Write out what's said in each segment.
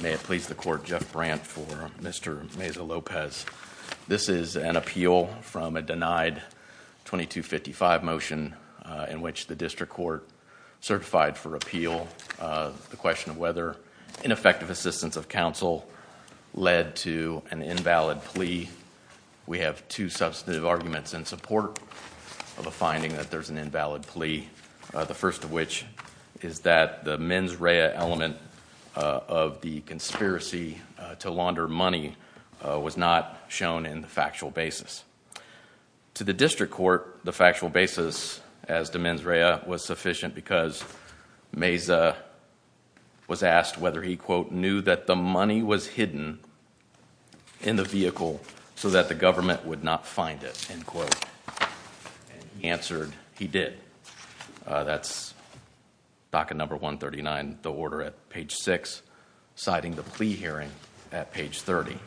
May it please the Court, Jeff Brandt for Mr. Meza-Lopez. This is an appeal from a denied 2255 motion in which the District Court certified for appeal the question of whether ineffective assistance of counsel led to an invalid plea. We have two substantive arguments in support of a finding that there's an invalid plea. The first of which is that the mens rea element of the conspiracy to launder money was not shown in the factual basis. To the District Court, the factual basis as to mens rea was sufficient because Meza was asked whether he, quote, knew that the money was hidden in the vehicle so that the government would not find it, end quote. And he answered he did. That's docket number 139, the order at page 6, citing the plea hearing at page 30.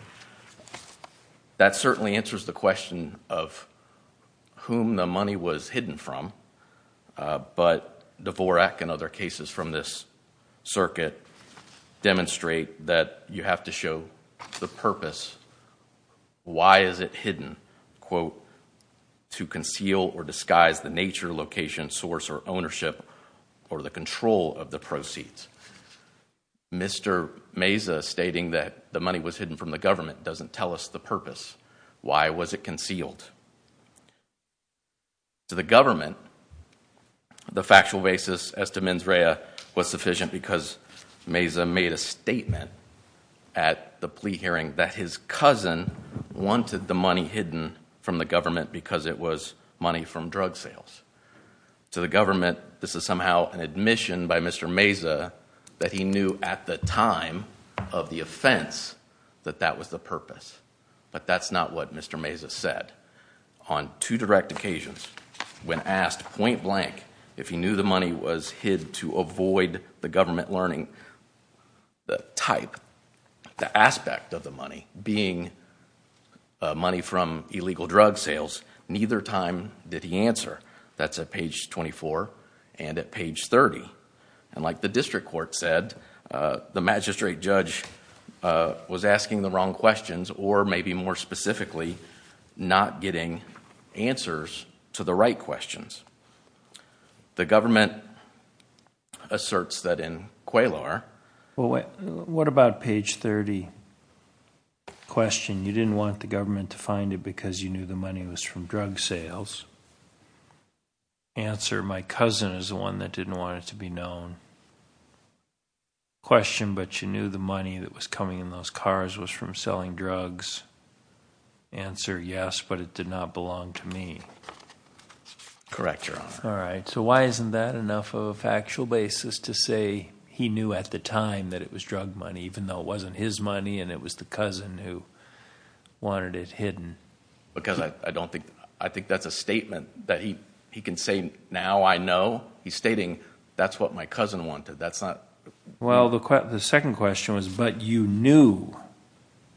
That certainly answers the question of whom the money was hidden from, but Dvorak and other cases from this circuit demonstrate that you have to show the purpose. Why is it hidden, quote, to conceal or disguise the nature, location, source, or ownership or the control of the proceeds? Mr. Meza stating that the money was hidden from the government doesn't tell us the purpose. Why was it concealed? To the government, the factual basis as to mens rea was sufficient because Meza made a statement at the plea hearing that his cousin wanted the money hidden from the government because it was money from drug sales. To the government, this is somehow an admission by Mr. Meza that he knew at the time of the offense that that was the purpose. But that's not what Mr. Meza said. On two direct occasions, when asked point blank if he knew the money was hid to avoid the government learning the type, the aspect of the money being money from illegal drug sales, neither time did he answer. That's at page 24 and at page 30. Like the district court said, the magistrate judge was asking the wrong questions or maybe more specifically, not getting answers to the right questions. The government asserts that in QALAR... What about page 30? Question. You didn't want the government to find it because you knew the money was from drug sales. Answer. My cousin is the one that didn't want it to be known. Question. But you knew the money that was coming in those cars was from selling drugs. Answer. Yes, but it did not belong to me. Correct, Your Honor. All right. So why isn't that enough of a factual basis to say he knew at the time that it was drug money, even though it wasn't his money and it was the cousin who wanted it hidden? Because I don't think... I think that's a statement that he can say, now I know. He's stating, that's what my cousin wanted. That's not... Well, the second question was, but you knew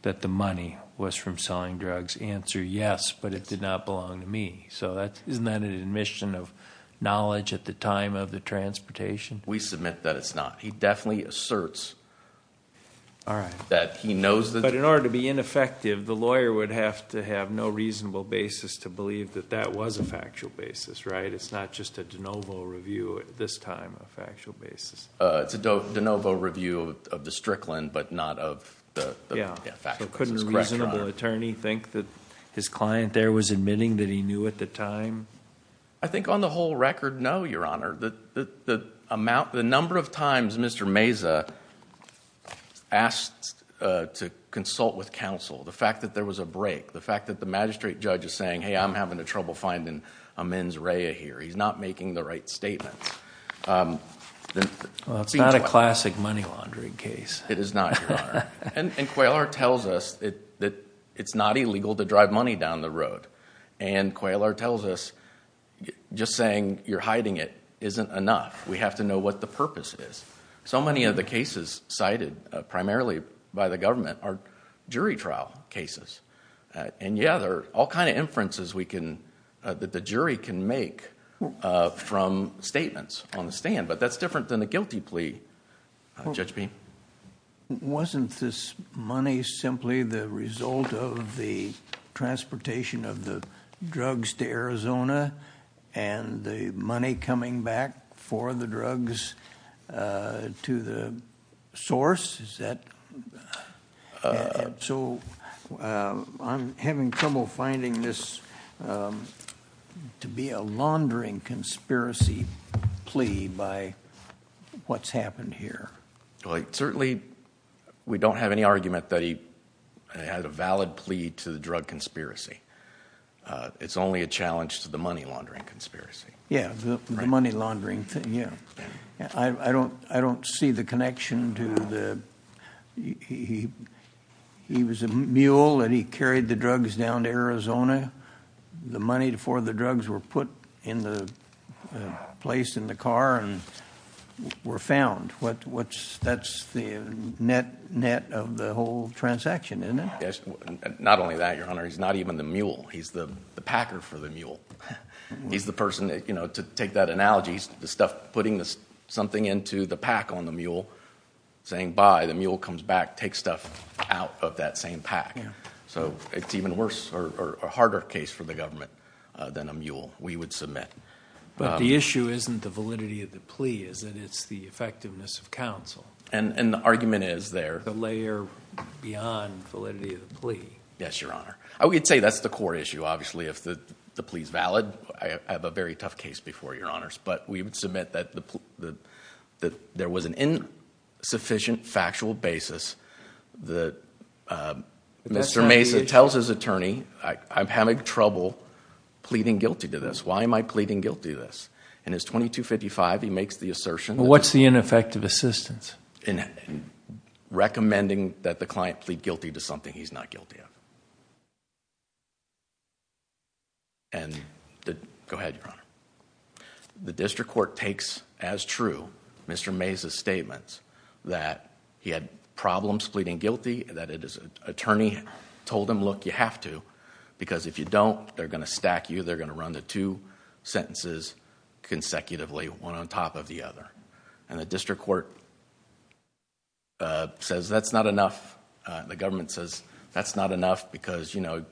that the money was from selling drugs. Answer. Yes, but it did not belong to me. Isn't that an admission of knowledge at the time of the transportation? We submit that it's not. He definitely asserts that he knows... But in order to be ineffective, the lawyer would have to have no reasonable basis to believe that that was a factual basis, right? It's not just a de novo review at this time of factual basis. It's a de novo review of the Strickland, but not of the factual basis. Couldn't a reasonable attorney think that his client there was admitting that he knew at the time? I think on the whole record, no, Your Honor. The number of times Mr. Meza asked to consult with counsel, the fact that there was a break, the fact that the magistrate judge is saying, hey, I'm having trouble finding a mens rea here. He's not making the right statement. It's not a classic money laundering case. It is not, Your Honor. Quayler tells us that it's not illegal to drive money down the road. Quayler tells us just saying you're hiding it isn't enough. We have to know what the purpose is. So many of the cases cited primarily by the government are jury trial cases. Yeah, there are all kinds of inferences that the jury can make from statements on the stand, but that's different than a guilty plea, Judge Beam. Wasn't this money simply the result of the transportation of the drugs to Arizona and the money coming back for the drugs to the source? Is that so? I'm having trouble finding this to be a laundering conspiracy plea by what's happened here. Well, certainly we don't have any argument that he had a valid plea to the drug conspiracy. It's only a challenge to the money laundering conspiracy. Yeah, the money laundering thing, yeah. I don't see the connection to the he was a mule and he carried the drugs down to Arizona. The money for the drugs were put in the place in the car and were found. That's the net of the whole transaction, isn't it? Yes, not only that, Your Honor. He's not even the mule. He's the packer for the mule. He's the person to take that analogy. He's the stuff putting something into the pack on the mule saying bye. The mule comes back, takes stuff out of that same pack. So it's even worse or a harder case for the government than a mule we would submit. But the issue isn't the validity of the plea. It's the effectiveness of counsel. And the argument is there. The layer beyond validity of the plea. Yes, Your Honor. I would say that's the core issue, obviously, if the plea is valid. I have a very tough case before you, Your Honors. But we would submit that there was an insufficient factual basis that Mr. Mesa tells his attorney, I'm having trouble pleading guilty to this. Why am I pleading guilty to this? In his 2255, he makes the assertion. What's the ineffective assistance? In recommending that the client plead guilty to something he's not guilty of. Go ahead, Your Honor. The district court takes as true Mr. Mesa's statements that he had problems pleading guilty, that his attorney told him, look, you have to. Because if you don't, they're going to stack you. They're going to run the two sentences consecutively, one on top of the other. And the district court says that's not enough. The government says that's not enough because an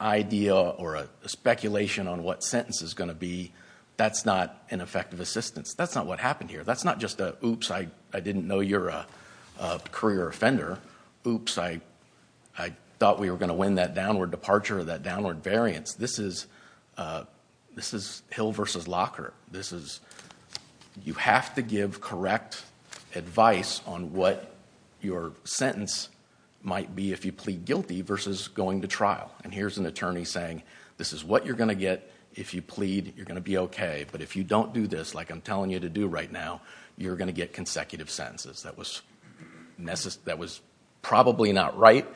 idea or a speculation on what sentence is going to be, that's not an effective assistance. That's not what happened here. That's not just an oops, I didn't know you're a career offender. Oops, I thought we were going to win that downward departure or that downward variance. This is hill versus locker. This is you have to give correct advice on what your sentence might be if you plead guilty versus going to trial. And here's an attorney saying this is what you're going to get if you plead, you're going to be okay. But if you don't do this, like I'm telling you to do right now, you're going to get consecutive sentences. That was probably not right,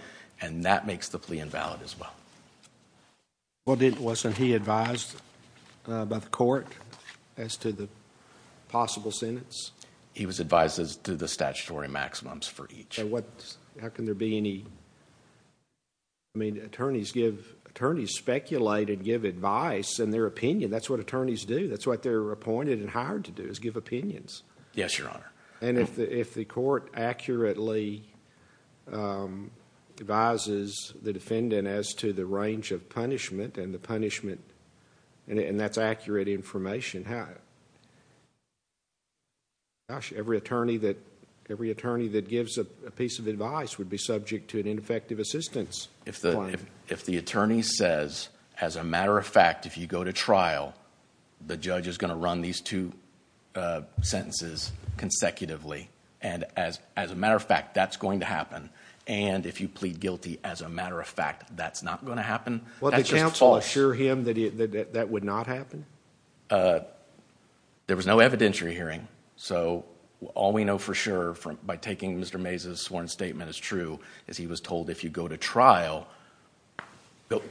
and that makes the plea invalid as well. Wasn't he advised by the court as to the possible sentence? He was advised as to the statutory maximums for each. How can there be any? I mean attorneys speculate and give advice and their opinion. That's what attorneys do. That's what they're appointed and hired to do is give opinions. Yes, Your Honor. And if the court accurately advises the defendant as to the range of punishment and the punishment, and that's accurate information, how? Gosh, every attorney that gives a piece of advice would be subject to an ineffective assistance. If the attorney says, as a matter of fact, if you go to trial, the judge is going to run these two sentences consecutively. And as a matter of fact, that's going to happen. And if you plead guilty, as a matter of fact, that's not going to happen. Well, did the counsel assure him that that would not happen? There was no evidentiary hearing. So all we know for sure by taking Mr. Mays's sworn statement as true is he was told, if you go to trial,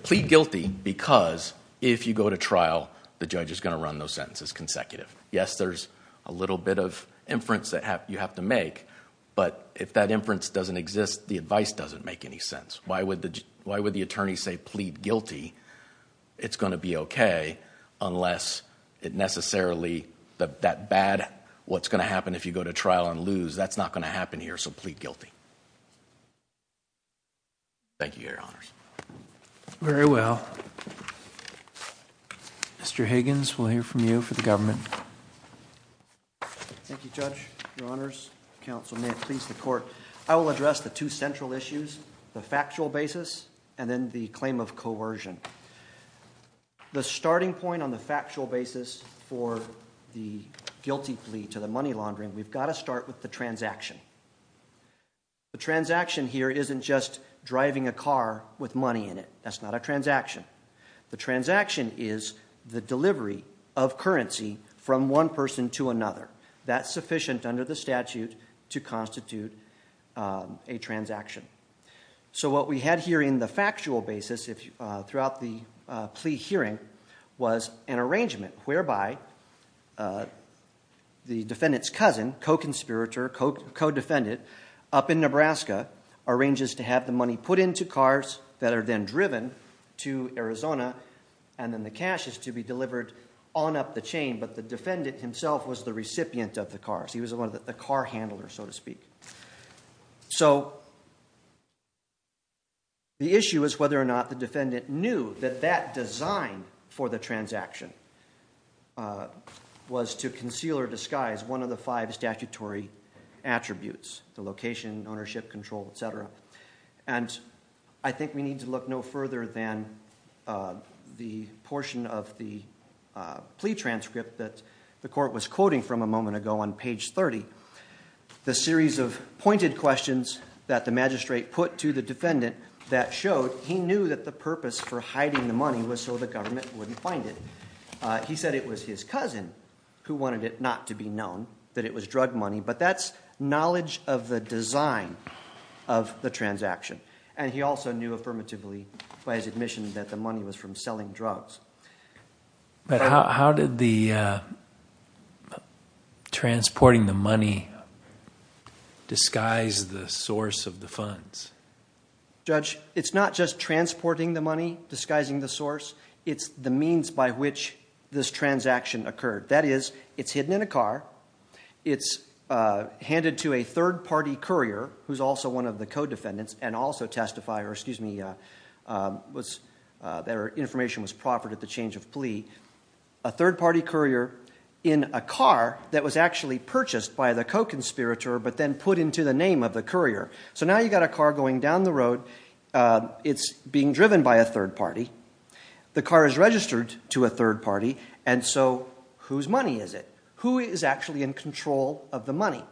plead guilty because if you go to trial, the judge is going to run those sentences consecutive. Yes, there's a little bit of inference that you have to make, but if that inference doesn't exist, the advice doesn't make any sense. Why would the attorney say plead guilty? It's going to be okay unless it necessarily, that bad what's going to happen if you go to trial and lose, that's not going to happen here, so plead guilty. Thank you, Your Honors. Very well. Mr. Higgins, we'll hear from you for the government. Thank you, Judge, Your Honors. Counsel, may it please the Court. I will address the two central issues, the factual basis and then the claim of coercion. The starting point on the factual basis for the guilty plea to the money laundering, we've got to start with the transaction. The transaction here isn't just driving a car with money in it. That's not a transaction. The transaction is the delivery of currency from one person to another. That's sufficient under the statute to constitute a transaction. So what we had here in the factual basis throughout the plea hearing was an arrangement whereby the defendant's cousin, co-conspirator, co-defendant up in Nebraska arranges to have the money put into cars that are then driven to Arizona, and then the cash is to be delivered on up the chain, but the defendant himself was the recipient of the cars. He was the car handler, so to speak. So the issue is whether or not the defendant knew that that design for the transaction was to conceal or disguise one of the five statutory attributes, the location, ownership, control, et cetera. And I think we need to look no further than the portion of the plea transcript that the court was quoting from a moment ago on page 30. The series of pointed questions that the magistrate put to the defendant that showed he knew that the purpose for hiding the money was so the government wouldn't find it. He said it was his cousin who wanted it not to be known, that it was drug money. But that's knowledge of the design of the transaction. And he also knew affirmatively by his admission that the money was from selling drugs. But how did the transporting the money disguise the source of the funds? Judge, it's not just transporting the money, disguising the source. It's the means by which this transaction occurred. That is, it's hidden in a car. It's handed to a third-party courier who's also one of the co-defendants and also testified or, excuse me, their information was proffered at the change of plea. A third-party courier in a car that was actually purchased by the co-conspirator but then put into the name of the courier. So now you've got a car going down the road. It's being driven by a third party. The car is registered to a third party and so whose money is it? Who is actually in control of the money?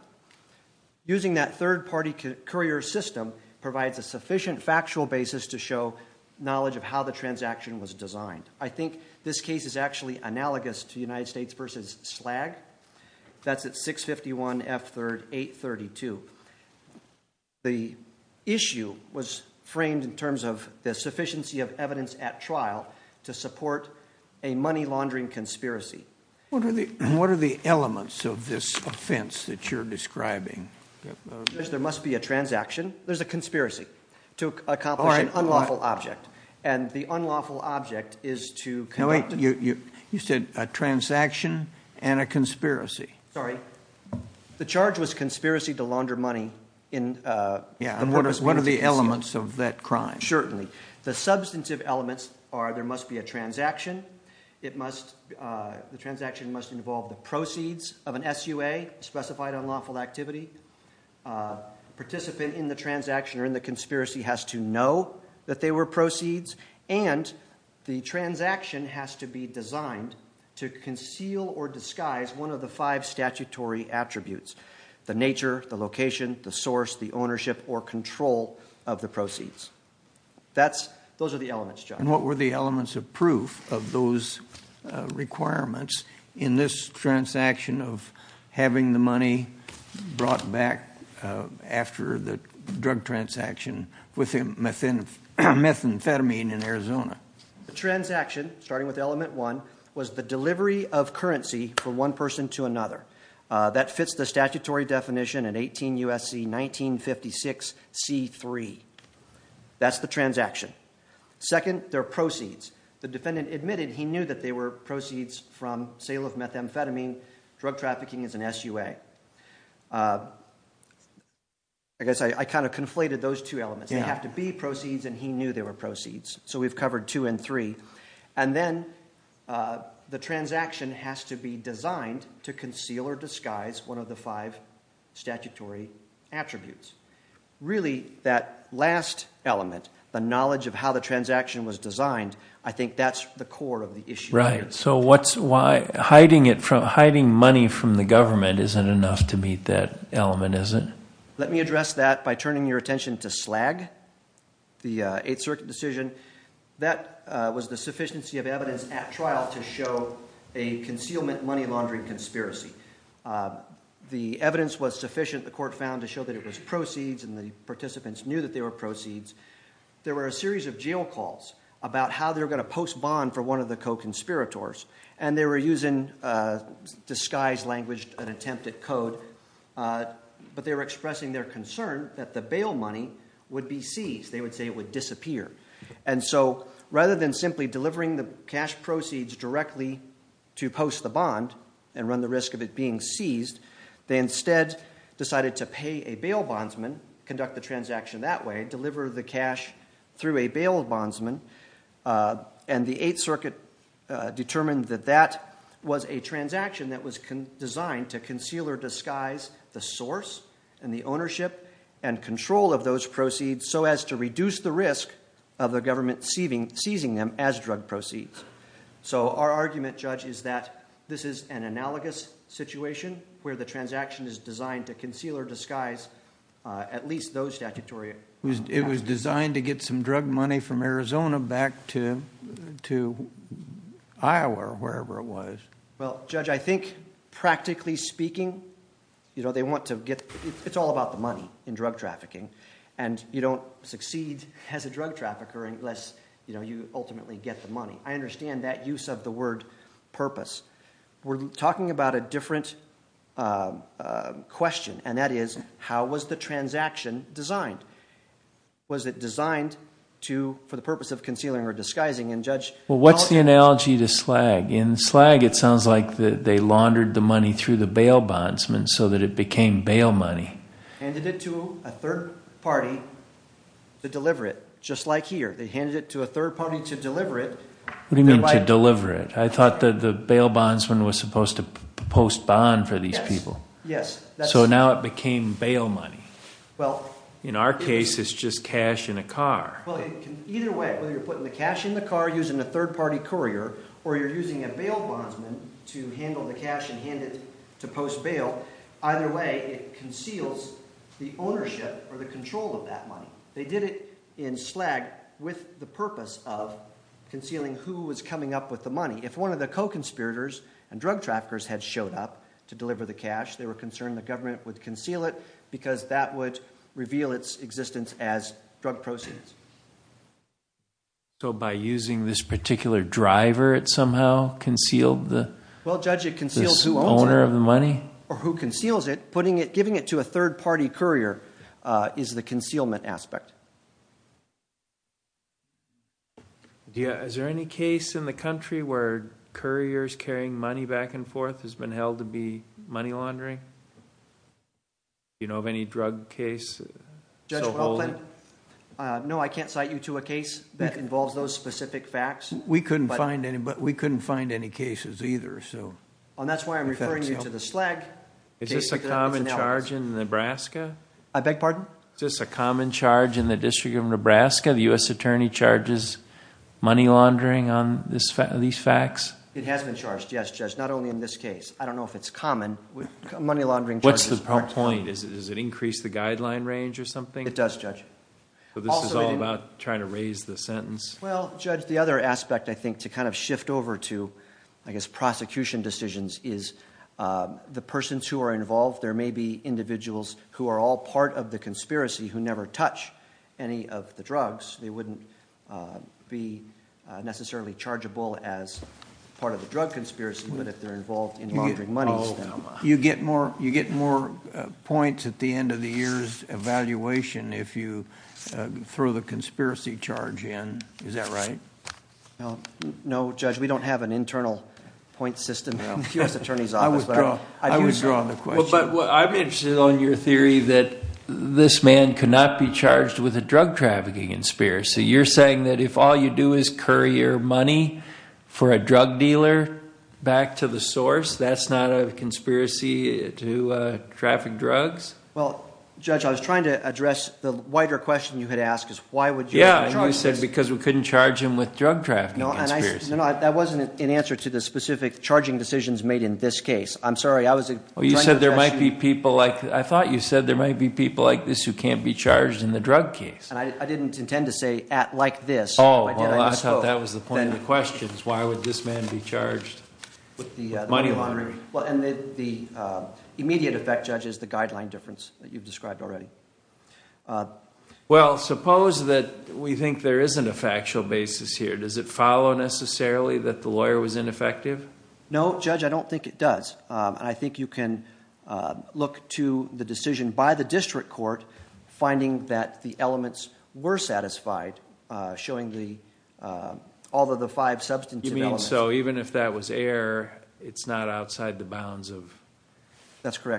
Using that third-party courier system provides a sufficient factual basis to show knowledge of how the transaction was designed. I think this case is actually analogous to United States v. SLAG. That's at 651 F3rd 832. The issue was framed in terms of the sufficiency of evidence at trial to support a money laundering conspiracy. What are the elements of this offense that you're describing? There must be a transaction. There's a conspiracy to accomplish an unlawful object, and the unlawful object is to conduct- You said a transaction and a conspiracy. Sorry. The charge was conspiracy to launder money. What are the elements of that crime? Certainly. The substantive elements are there must be a transaction. The transaction must involve the proceeds of an SUA, specified unlawful activity. Participant in the transaction or in the conspiracy has to know that they were proceeds, and the transaction has to be designed to conceal or disguise one of the five statutory attributes. The nature, the location, the source, the ownership, or control of the proceeds. And what were the elements of proof of those requirements in this transaction of having the money brought back after the drug transaction with methamphetamine in Arizona? The transaction, starting with element one, was the delivery of currency from one person to another. That fits the statutory definition in 18 U.S.C. 1956 C3. That's the transaction. Second, there are proceeds. The defendant admitted he knew that they were proceeds from sale of methamphetamine. Drug trafficking is an SUA. I guess I kind of conflated those two elements. They have to be proceeds, and he knew they were proceeds, so we've covered two and three. And then the transaction has to be designed to conceal or disguise one of the five statutory attributes. Really, that last element, the knowledge of how the transaction was designed, I think that's the core of the issue. Right. So what's why hiding money from the government isn't enough to meet that element, is it? Let me address that by turning your attention to SLAG, the Eighth Circuit decision. That was the sufficiency of evidence at trial to show a concealment money laundering conspiracy. The evidence was sufficient, the court found, to show that it was proceeds, and the participants knew that they were proceeds. There were a series of jail calls about how they were going to post bond for one of the co-conspirators, and they were using disguise language, an attempted code, but they were expressing their concern that the bail money would be seized. They would say it would disappear. And so rather than simply delivering the cash proceeds directly to post the bond and run the risk of it being seized, they instead decided to pay a bail bondsman, conduct the transaction that way, deliver the cash through a bail bondsman, and the Eighth Circuit determined that that was a transaction that was designed to conceal or disguise the source and the ownership and control of those proceeds so as to reduce the risk of the government seizing them as drug proceeds. So our argument, Judge, is that this is an analogous situation where the transaction is designed to conceal or disguise at least those statutory actions. It was designed to get some drug money from Arizona back to Iowa or wherever it was. Well, Judge, I think practically speaking, you know, they want to get – it's all about the money in drug trafficking, and you don't succeed as a drug trafficker unless, you know, you ultimately get the money. I understand that use of the word purpose. We're talking about a different question, and that is how was the transaction designed? Was it designed to – for the purpose of concealing or disguising, and Judge – Well, what's the analogy to slag? In slag, it sounds like they laundered the money through the bail bondsman so that it became bail money. Handed it to a third party to deliver it, just like here. They handed it to a third party to deliver it. What do you mean to deliver it? I thought that the bail bondsman was supposed to post bond for these people. Yes. So now it became bail money. Well – In our case, it's just cash in a car. Well, either way, whether you're putting the cash in the car using a third party courier or you're using a bail bondsman to handle the cash and hand it to post bail, either way it conceals the ownership or the control of that money. They did it in slag with the purpose of concealing who was coming up with the money. If one of the co-conspirators and drug traffickers had showed up to deliver the cash, they were concerned the government would conceal it because that would reveal its existence as drug proceeds. So by using this particular driver, it somehow concealed the owner of the money? Well, Judge, it conceals who owns it. Or who conceals it. Giving it to a third party courier is the concealment aspect. Is there any case in the country where couriers carrying money back and forth has been held to be money laundering? Do you know of any drug case? Judge Welkman, no, I can't cite you to a case that involves those specific facts. We couldn't find any cases either. That's why I'm referring you to the slag case. Is this a common charge in Nebraska? I beg pardon? Is this a common charge in the District of Nebraska? The U.S. Attorney charges money laundering on these facts? It has been charged, yes, Judge. Not only in this case. I don't know if it's common. What's the point? Does it increase the guideline range or something? It does, Judge. So this is all about trying to raise the sentence? Well, Judge, the other aspect, I think, to kind of shift over to, I guess, prosecution decisions is the persons who are involved. There may be individuals who are all part of the conspiracy who never touch any of the drugs. They wouldn't be necessarily chargeable as part of the drug conspiracy, but if they're involved in laundering money. You get more points at the end of the year's evaluation if you throw the conspiracy charge in. Is that right? No, Judge, we don't have an internal point system in the U.S. Attorney's office. I withdraw the question. I'm interested on your theory that this man could not be charged with a drug trafficking conspiracy. You're saying that if all you do is curry your money for a drug dealer back to the source, that's not a conspiracy to traffic drugs? Well, Judge, I was trying to address the wider question you had asked is why would you charge this? Yeah, and you said because we couldn't charge him with drug trafficking conspiracy. No, that wasn't in answer to the specific charging decisions made in this case. I'm sorry, I was trying to address you. Well, you said there might be people like, I thought you said there might be people like this who can't be charged in the drug case. And I didn't intend to say at like this. Oh, well, I thought that was the point of the question is why would this man be charged with money laundering? Well, and the immediate effect, Judge, is the guideline difference that you've described already. Well, suppose that we think there isn't a factual basis here. Does it follow necessarily that the lawyer was ineffective? No, Judge, I don't think it does. And I think you can look to the decision by the district court finding that the elements were satisfied, showing all of the five substantive elements. So even if that was error, it's not outside the bounds of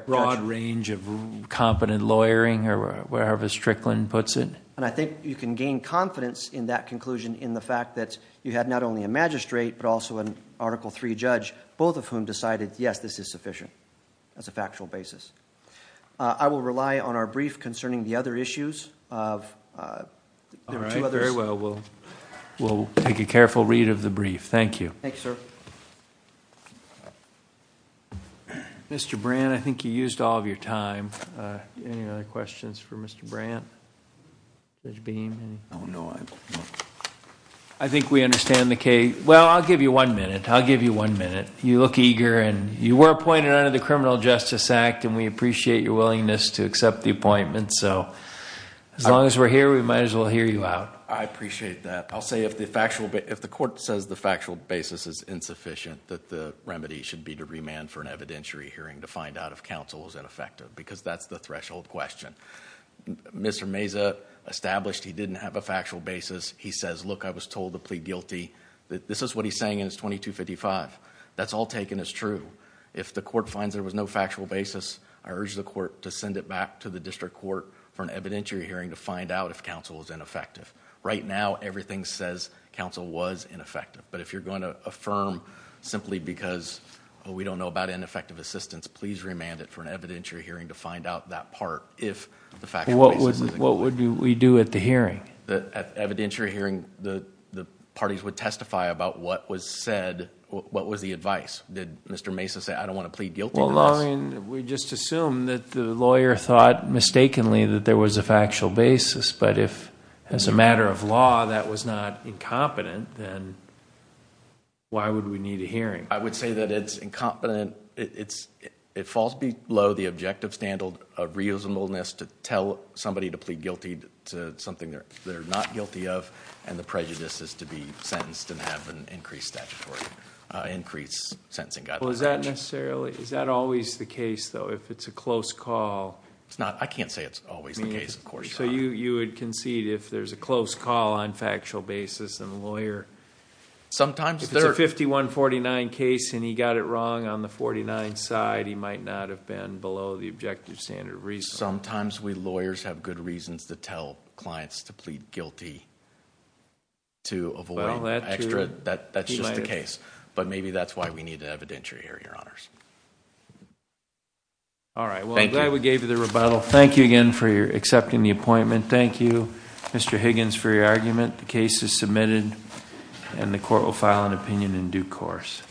broad range of competent lawyering or wherever Strickland puts it? And I think you can gain confidence in that conclusion in the fact that you had not only a magistrate but also an Article III judge, both of whom decided, yes, this is sufficient as a factual basis. I will rely on our brief concerning the other issues. All right, very well. We'll take a careful read of the brief. Thank you. Thank you, sir. Mr. Brandt, I think you used all of your time. Any other questions for Mr. Brandt? Judge Beam? I don't know. I think we understand the case. Well, I'll give you one minute. I'll give you one minute. You look eager. And you were appointed under the Criminal Justice Act. And we appreciate your willingness to accept the appointment. So as long as we're here, we might as well hear you out. I appreciate that. I'll say if the court says the factual basis is insufficient, that the remedy should be to remand for an evidentiary hearing to find out if counsel is ineffective because that's the threshold question. Mr. Mazza established he didn't have a factual basis. He says, look, I was told to plead guilty. This is what he's saying in his 2255. That's all taken as true. If the court finds there was no factual basis, I urge the court to send it back to the district court for an evidentiary hearing to find out if counsel is ineffective. Right now, everything says counsel was ineffective. But if you're going to affirm simply because we don't know about ineffective assistance, please remand it for an evidentiary hearing to find out that part if the factual basis is ineffective. What would we do at the hearing? At evidentiary hearing, the parties would testify about what was said, what was the advice. Did Mr. Mazza say, I don't want to plead guilty? We just assume that the lawyer thought mistakenly that there was a factual basis. But if as a matter of law, that was not incompetent, then why would we need a hearing? I would say that it's incompetent. It falls below the objective standard of reasonableness to tell somebody to plead guilty to something they're not guilty of. And the prejudice is to be sentenced and have an increased statutory, increased sentencing guidelines. Is that necessarily, is that always the case, though, if it's a close call? I can't say it's always the case in court. So you would concede if there's a close call on factual basis and the lawyer. Sometimes there are. If it's a 51-49 case and he got it wrong on the 49 side, he might not have been below the objective standard of reason. Sometimes we lawyers have good reasons to tell clients to plead guilty to avoid extra. That's just the case. But maybe that's why we need an evidentiary hearing, Your Honors. All right. Well, I'm glad we gave you the rebuttal. Thank you again for accepting the appointment. Thank you, Mr. Higgins, for your argument. The case is submitted and the court will file an opinion in due course.